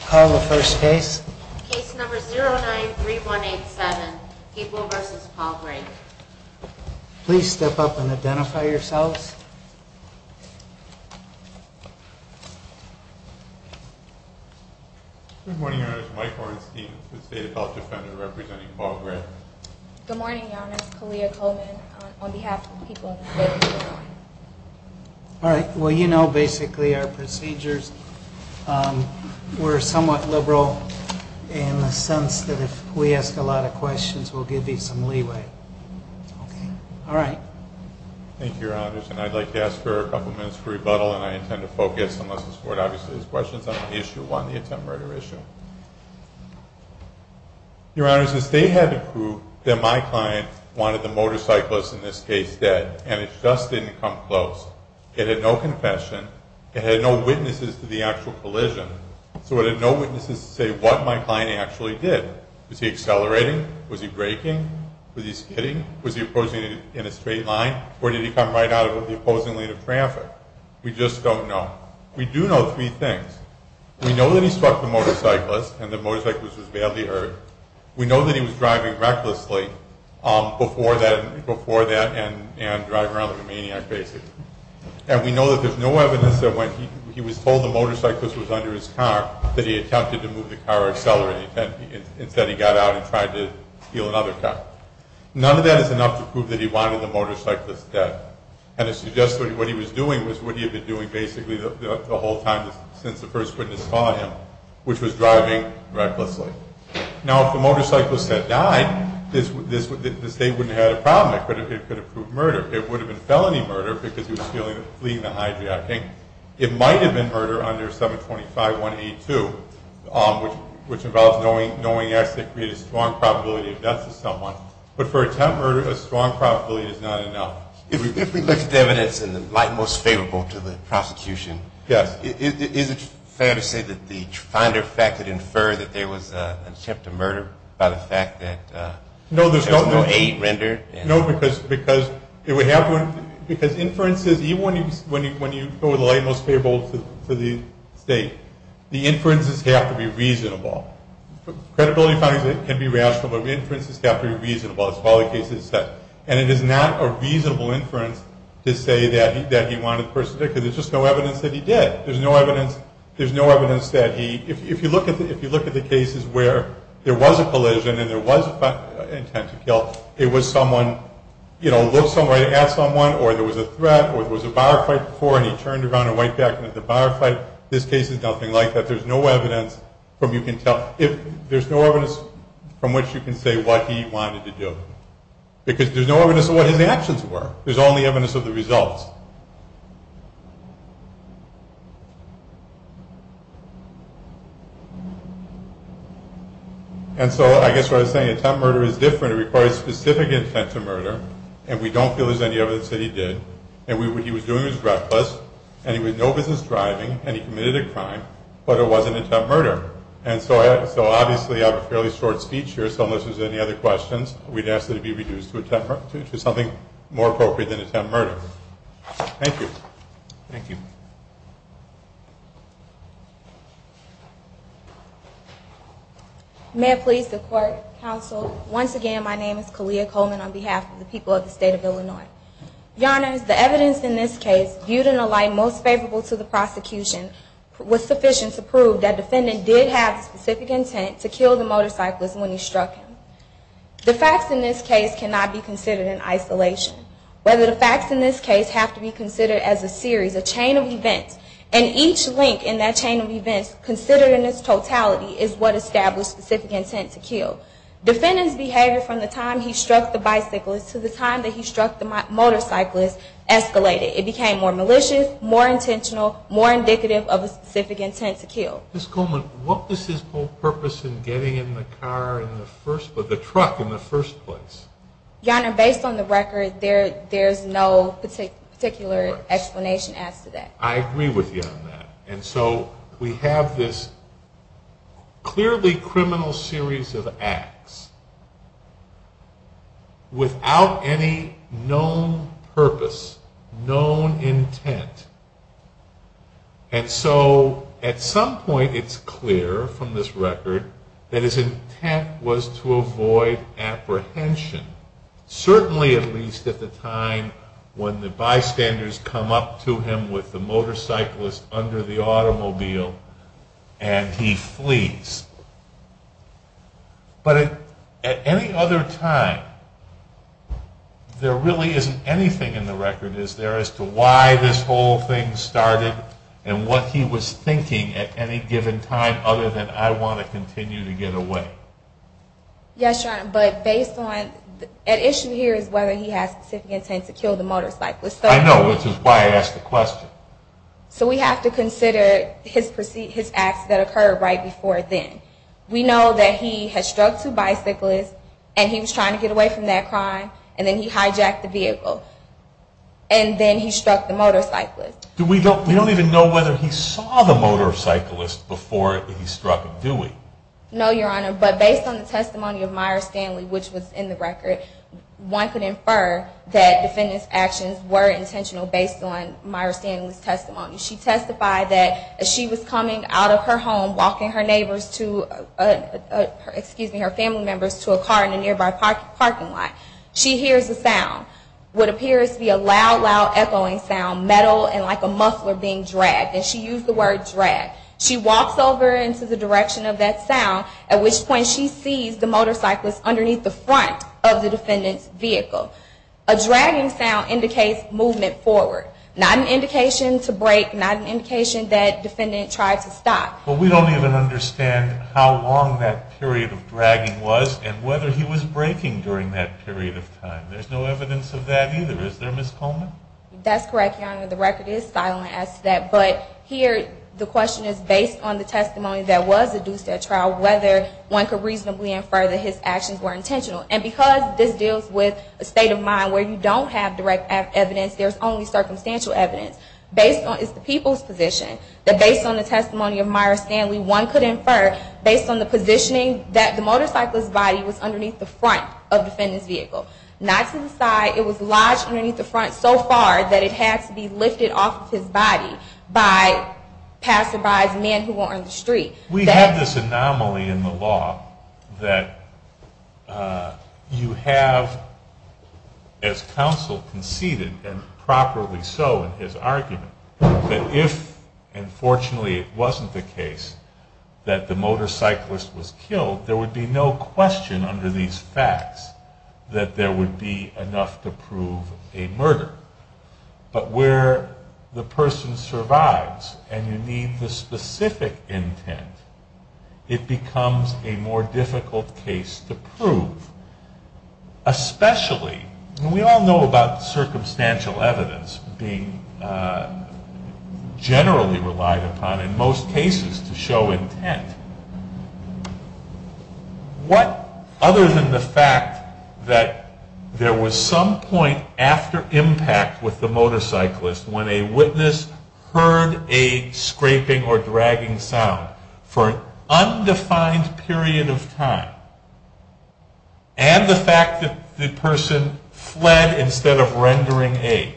Call the first case. Case number 093187, People v. Paul Gray. Please step up and identify yourselves. Good morning, Your Honor. It's Mike Hornstein, the State Appeal Defender, representing Paul Gray. Good morning, Your Honor. It's Kalia Coleman on behalf of People v. Gray. All right. Well, you know, basically our procedures, we're somewhat liberal in the sense that if we ask a lot of questions, we'll give you some leeway. Okay. All right. Thank you, Your Honors. And I'd like to ask for a couple minutes for rebuttal, and I intend to focus, unless this Court obviously has questions on the issue, on the attempt murder issue. Your Honors, the State had to prove that my client wanted the motorcyclist, in this case, dead, and it just didn't come close. It had no confession. It had no witnesses to the actual collision. So it had no witnesses to say what my client actually did. Was he accelerating? Was he braking? Was he skidding? Was he approaching in a straight line? Or did he come right out of the opposing lane of traffic? We just don't know. We do know three things. We know that he struck the motorcyclist, and the motorcyclist was badly hurt. We know that he was driving recklessly before that and driving around like a maniac, basically. And we know that there's no evidence that when he was told the motorcyclist was under his car, that he attempted to move the car or accelerate. Instead, he got out and tried to steal another car. None of that is enough to prove that he wanted the motorcyclist dead. And it suggests that what he was doing was what he had been doing, basically, the whole time since the first witness saw him, which was driving recklessly. Now, if the motorcyclist had died, the State wouldn't have had a problem. It could have proved murder. It would have been felony murder because he was fleeing the hijacking. It might have been murder under 725.182, which involves knowing X that created a strong probability of death to someone. But for attempt murder, a strong probability is not enough. If we look at the evidence in the light and most favorable to the prosecution, is it fair to say that the finder fact that inferred that there was an attempt to murder by the fact that there's no aid rendered? No, because inferences, even when you go with the light and most favorable to the State, the inferences have to be reasonable. Credibility findings can be rational, but inferences have to be reasonable as far as the case is concerned. And it is not a reasonable inference to say that he wanted the person dead, because there's just no evidence that he did. There's no evidence that he... If you look at the cases where there was a collision and there was an attempt to kill, it was someone, you know, looked somewhere at someone, or there was a threat, or there was a bar fight before, and he turned around and went back into the bar fight. This case is nothing like that. There's no evidence from which you can say what he wanted to do. Because there's no evidence of what his actions were. There's only evidence of the results. And so I guess what I was saying, attempt murder is different. It requires specific intent to murder, and we don't feel there's any evidence that he did. And what he was doing was reckless, and he was no business driving, and he committed a crime, but it was an attempt murder. And so obviously I have a fairly short speech here, so unless there's any other questions, we'd ask that it be reduced to something more appropriate than attempt murder. Thank you. Thank you. May it please the Court, Counsel. Once again, my name is Kalia Coleman on behalf of the people of the State of Illinois. Your Honors, the evidence in this case, viewed in a light most favorable to the prosecution, was sufficient to prove that the defendant did have the specific intent to kill the motorcyclist when he struck him. The facts in this case cannot be considered in isolation. Whether the facts in this case have to be considered as a series, a chain of events, and each link in that chain of events considered in its totality is what established specific intent to kill. Defendant's behavior from the time he struck the bicyclist to the time that he struck the motorcyclist escalated. It became more malicious, more intentional, more indicative of a specific intent to kill. Ms. Coleman, what was his whole purpose in getting in the truck in the first place? Your Honor, based on the record, there's no particular explanation as to that. I agree with you on that. And so we have this clearly criminal series of acts without any known purpose, known intent. And so at some point it's clear from this record that his intent was to avoid apprehension, certainly at least at the time when the bystanders come up to him with the motorcyclist under the automobile and he flees. But at any other time, there really isn't anything in the record, is there, as to why this whole thing started and what he was thinking at any given time other than, I want to continue to get away. Yes, Your Honor, but based on, at issue here is whether he has specific intent to kill the motorcyclist. I know, which is why I asked the question. So we have to consider his acts that occurred right before then. We know that he had struck two bicyclists, and he was trying to get away from that crime, and then he hijacked the vehicle. And then he struck the motorcyclist. We don't even know whether he saw the motorcyclist before he struck him, do we? No, Your Honor, but based on the testimony of Myra Stanley, which was in the record, one could infer that defendant's actions were intentional based on Myra Stanley's testimony. She testified that as she was coming out of her home, walking her family members to a car in a nearby parking lot, she hears a sound, what appears to be a loud, loud echoing sound, metal and like a muffler being dragged. And she used the word dragged. She walks over into the direction of that sound, at which point she sees the motorcyclist underneath the front of the defendant's vehicle. A dragging sound indicates movement forward, not an indication to brake, not an indication that defendant tried to stop. But we don't even understand how long that period of dragging was and whether he was braking during that period of time. There's no evidence of that either, is there, Ms. Coleman? That's correct, Your Honor. The record is silent as to that, but here the question is, based on the testimony that was adduced at trial, whether one could reasonably infer that his actions were intentional. And because this deals with a state of mind where you don't have direct evidence, there's only circumstantial evidence. It's the people's position that based on the testimony of Myra Stanley, one could infer, based on the positioning, that the motorcyclist's body was underneath the front of the defendant's vehicle, not to the side. It was lodged underneath the front so far that it had to be lifted off of his body by passerbys and men who were on the street. We have this anomaly in the law that you have, as counsel conceded, and properly so in his argument, that if, and fortunately it wasn't the case, that the motorcyclist was killed, there would be no question under these facts that there would be enough to prove a murder. But where the person survives and you need the specific intent, it becomes a more difficult case to prove. Especially, and we all know about circumstantial evidence being generally relied upon in most cases to show intent. What other than the fact that there was some point after impact with the motorcyclist when a witness heard a scraping or dragging sound for an undefined period of time and the fact that the person fled instead of rendering aid,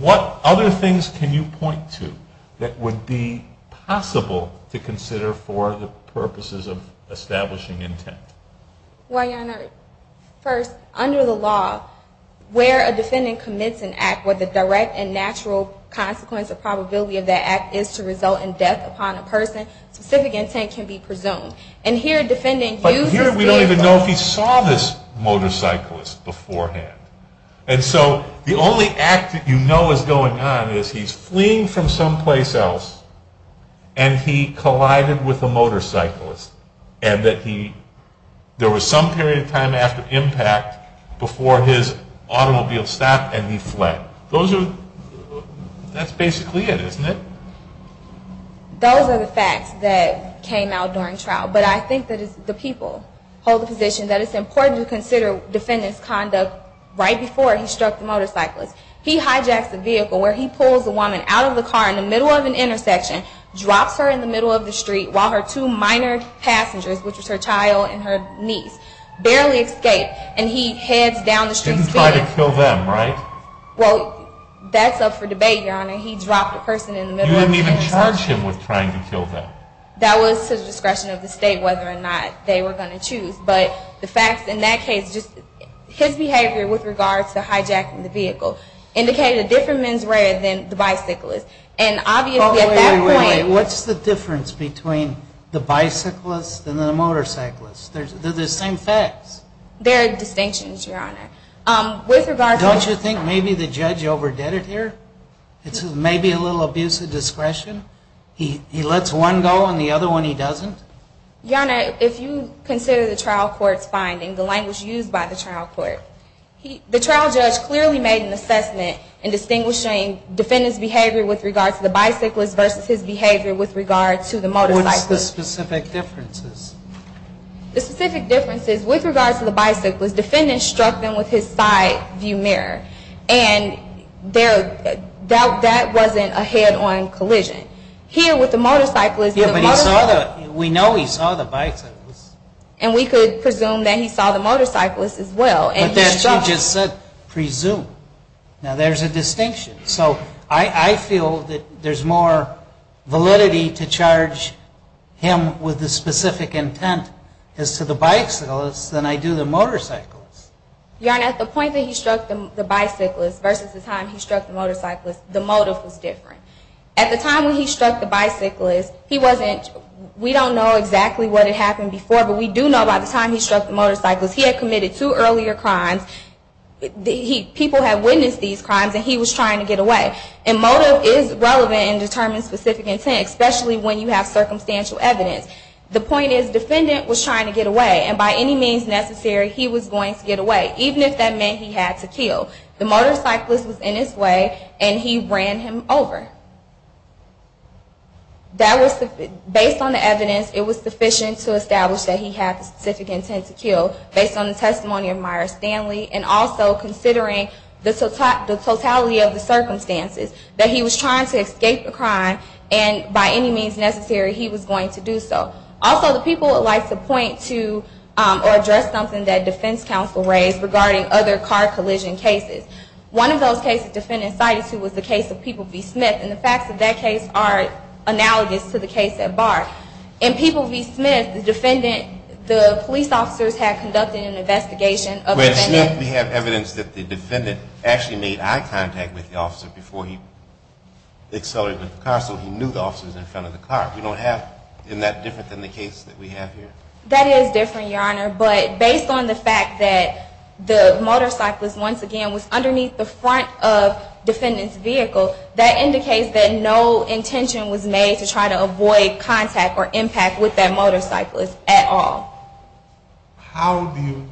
what other things can you point to that would be possible to consider for the purposes of establishing intent? Well, Your Honor, first, under the law, where a defendant commits an act, where the direct and natural consequence or probability of that act is to result in death upon a person, then specific intent can be presumed. But here we don't even know if he saw this motorcyclist beforehand. And so the only act that you know is going on is he's fleeing from someplace else and he collided with a motorcyclist and that there was some period of time after impact before his automobile stopped and he fled. That's basically it, isn't it? Those are the facts that came out during trial. But I think that the people hold the position that it's important to consider defendants' conduct right before he struck the motorcyclist. He hijacks the vehicle where he pulls the woman out of the car in the middle of an intersection, drops her in the middle of the street while her two minor passengers, which was her child and her niece, barely escape and he heads down the street. Didn't try to kill them, right? Well, that's up for debate, Your Honor. He dropped a person in the middle of an intersection. You didn't even charge him with trying to kill them. That was to the discretion of the state whether or not they were going to choose. But the facts in that case, just his behavior with regards to hijacking the vehicle, indicated a different mens rea than the bicyclist. And obviously at that point What's the difference between the bicyclist and the motorcyclist? They're the same facts. There are distinctions, Your Honor. Don't you think maybe the judge overdid it here? It's maybe a little abusive discretion? He lets one go and the other one he doesn't? Your Honor, if you consider the trial court's finding, the language used by the trial court, the trial judge clearly made an assessment in distinguishing defendant's behavior with regards to the bicyclist versus his behavior with regards to the motorcyclist. What's the specific differences? The specific difference is with regards to the bicyclist, defendant struck them with his side view mirror. And that wasn't a head-on collision. Here with the motorcyclist. Yeah, but we know he saw the bicyclist. And we could presume that he saw the motorcyclist as well. But that's what you just said, presume. Now there's a distinction. So I feel that there's more validity to charge him with the specific intent as to the bicyclist than I do the motorcyclist. Your Honor, at the point that he struck the bicyclist versus the time he struck the motorcyclist, the motive was different. At the time when he struck the bicyclist, he wasn't, we don't know exactly what had happened before, but we do know by the time he struck the motorcyclist, he had committed two earlier crimes. People had witnessed these crimes and he was trying to get away. And motive is relevant in determining specific intent, especially when you have circumstantial evidence. The point is, defendant was trying to get away. And by any means necessary, he was going to get away, even if that meant he had to kill. The motorcyclist was in his way and he ran him over. Based on the evidence, it was sufficient to establish that he had the specific intent to kill, based on the testimony of Myra Stanley and also considering the totality of the circumstances, that he was trying to escape the crime and by any means necessary, he was going to do so. Also, the people would like to point to or address something that defense counsel raised regarding other car collision cases. One of those cases defendants cited to was the case of People v. Smith. And the facts of that case are analogous to the case at Barr. In People v. Smith, the police officers had conducted an investigation of the defendant. In People v. Smith, we have evidence that the defendant actually made eye contact with the officer before he accelerated with the car, so he knew the officer was in front of the car. We don't have that different than the case that we have here? That is different, Your Honor. But based on the fact that the motorcyclist, once again, was underneath the front of defendant's vehicle, that indicates that no intention was made to try to avoid contact or impact with that motorcyclist at all. How do you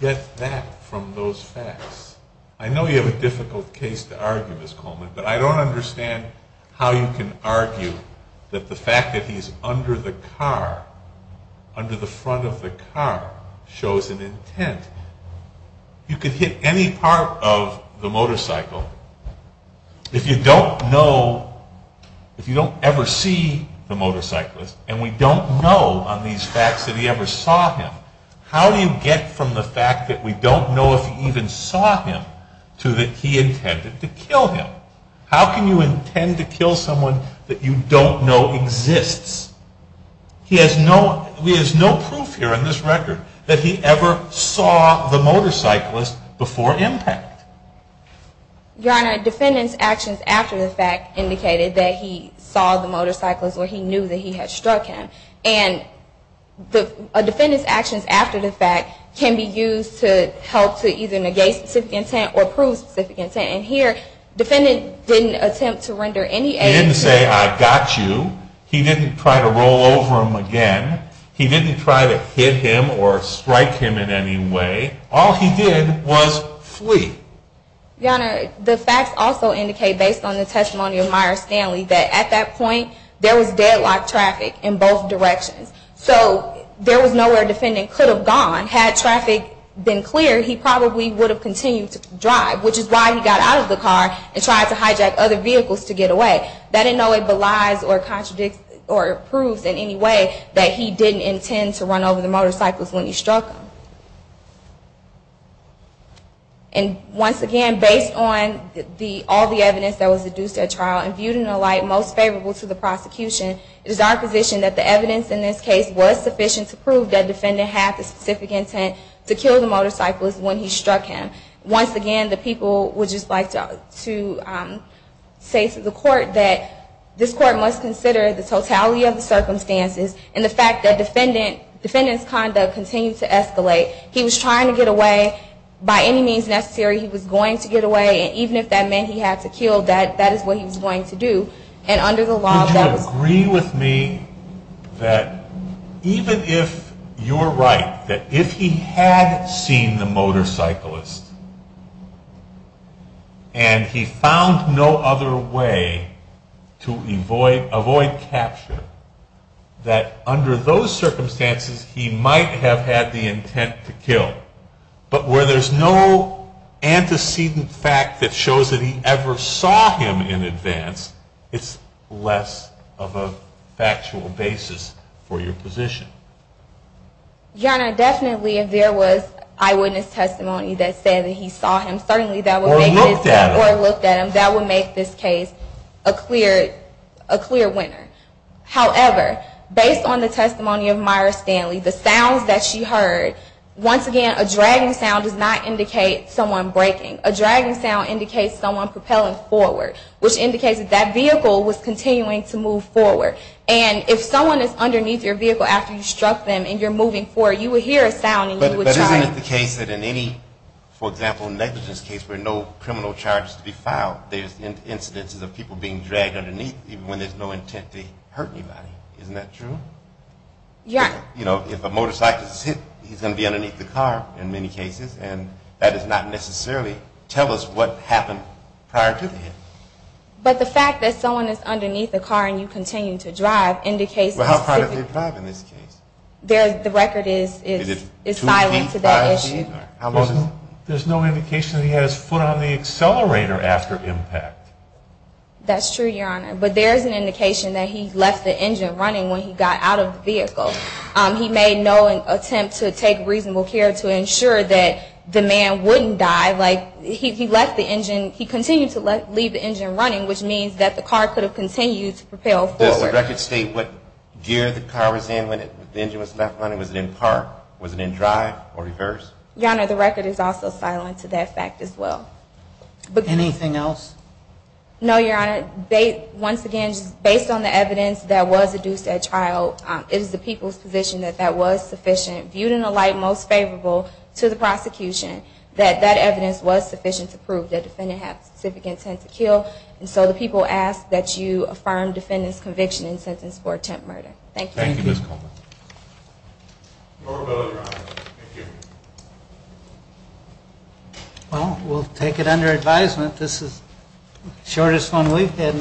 get that from those facts? I know you have a difficult case to argue, Ms. Coleman, but I don't understand how you can argue that the fact that he is under the car, under the front of the car, shows an intent. You could hit any part of the motorcycle. If you don't know, if you don't ever see the motorcyclist, and we don't know on these facts that he ever saw him, how do you get from the fact that we don't know if he even saw him to that he intended to kill him? How can you intend to kill someone that you don't know exists? He has no proof here in this record that he ever saw the motorcyclist before impact. Your Honor, defendant's actions after the fact indicated that he saw the motorcyclist or he knew that he had struck him. And a defendant's actions after the fact can be used to help to either negate specific intent or prove specific intent. And here, defendant didn't attempt to render any aid. He didn't say, I got you. He didn't try to roll over him again. He didn't try to hit him or strike him in any way. All he did was flee. Your Honor, the facts also indicate, based on the testimony of Myer Stanley, that at that point there was deadlock traffic in both directions. So there was no way a defendant could have gone. Had traffic been clear, he probably would have continued to drive, which is why he got out of the car and tried to hijack other vehicles to get away. But that in no way belies or contradicts or proves in any way that he didn't intend to run over the motorcyclist when he struck him. And once again, based on all the evidence that was deduced at trial and viewed in a light most favorable to the prosecution, it is our position that the evidence in this case was sufficient to prove that defendant had the specific intent to kill the motorcyclist when he struck him. Once again, the people would just like to say to the Court that this Court must consider the totality of the circumstances and the fact that defendant's conduct continued to escalate. He was trying to get away by any means necessary. He was going to get away, and even if that meant he had to kill, that is what he was going to do. And under the law, that was... And he found no other way to avoid capture that under those circumstances he might have had the intent to kill. But where there's no antecedent fact that shows that he ever saw him in advance, it's less of a factual basis for your position. Your Honor, definitely if there was eyewitness testimony that said that he saw him, certainly that would make this case a clear winner. However, based on the testimony of Myra Stanley, the sounds that she heard, once again, a dragging sound does not indicate someone braking. A dragging sound indicates someone propelling forward, which indicates that that vehicle was continuing to move forward. And if someone is underneath your vehicle after you struck them and you're moving forward, you would hear a sound and you would try to... But isn't it the case that in any, for example, negligence case where no criminal charge is to be filed, there's incidences of people being dragged underneath even when there's no intent to hurt anybody. Isn't that true? Yeah. You know, if a motorcycle is hit, he's going to be underneath the car in many cases, and that does not necessarily tell us what happened prior to the hit. But the fact that someone is underneath the car and you continue to drive indicates... Well, how far did they drive in this case? The record is silent to that issue. There's no indication that he had his foot on the accelerator after impact. That's true, Your Honor, but there is an indication that he left the engine running when he got out of the vehicle. He made no attempt to take reasonable care to ensure that the man wouldn't die. He continued to leave the engine running, which means that the car could have continued to propel forward. Does the record state what gear the car was in when the engine was left running? Was it in park? Was it in drive or reverse? Your Honor, the record is also silent to that fact as well. Anything else? No, Your Honor. Once again, based on the evidence that was deduced at trial, it is the people's position that that was sufficient, viewed in a light most favorable to the prosecution, that that evidence was sufficient to prove that the defendant had specific intent to kill, and so the people ask that you affirm defendant's conviction and sentence for attempt murder. Thank you. Thank you, Ms. Coleman. No further questions, Your Honor. Thank you. Well, we'll take it under advisement. This is the shortest one we've had.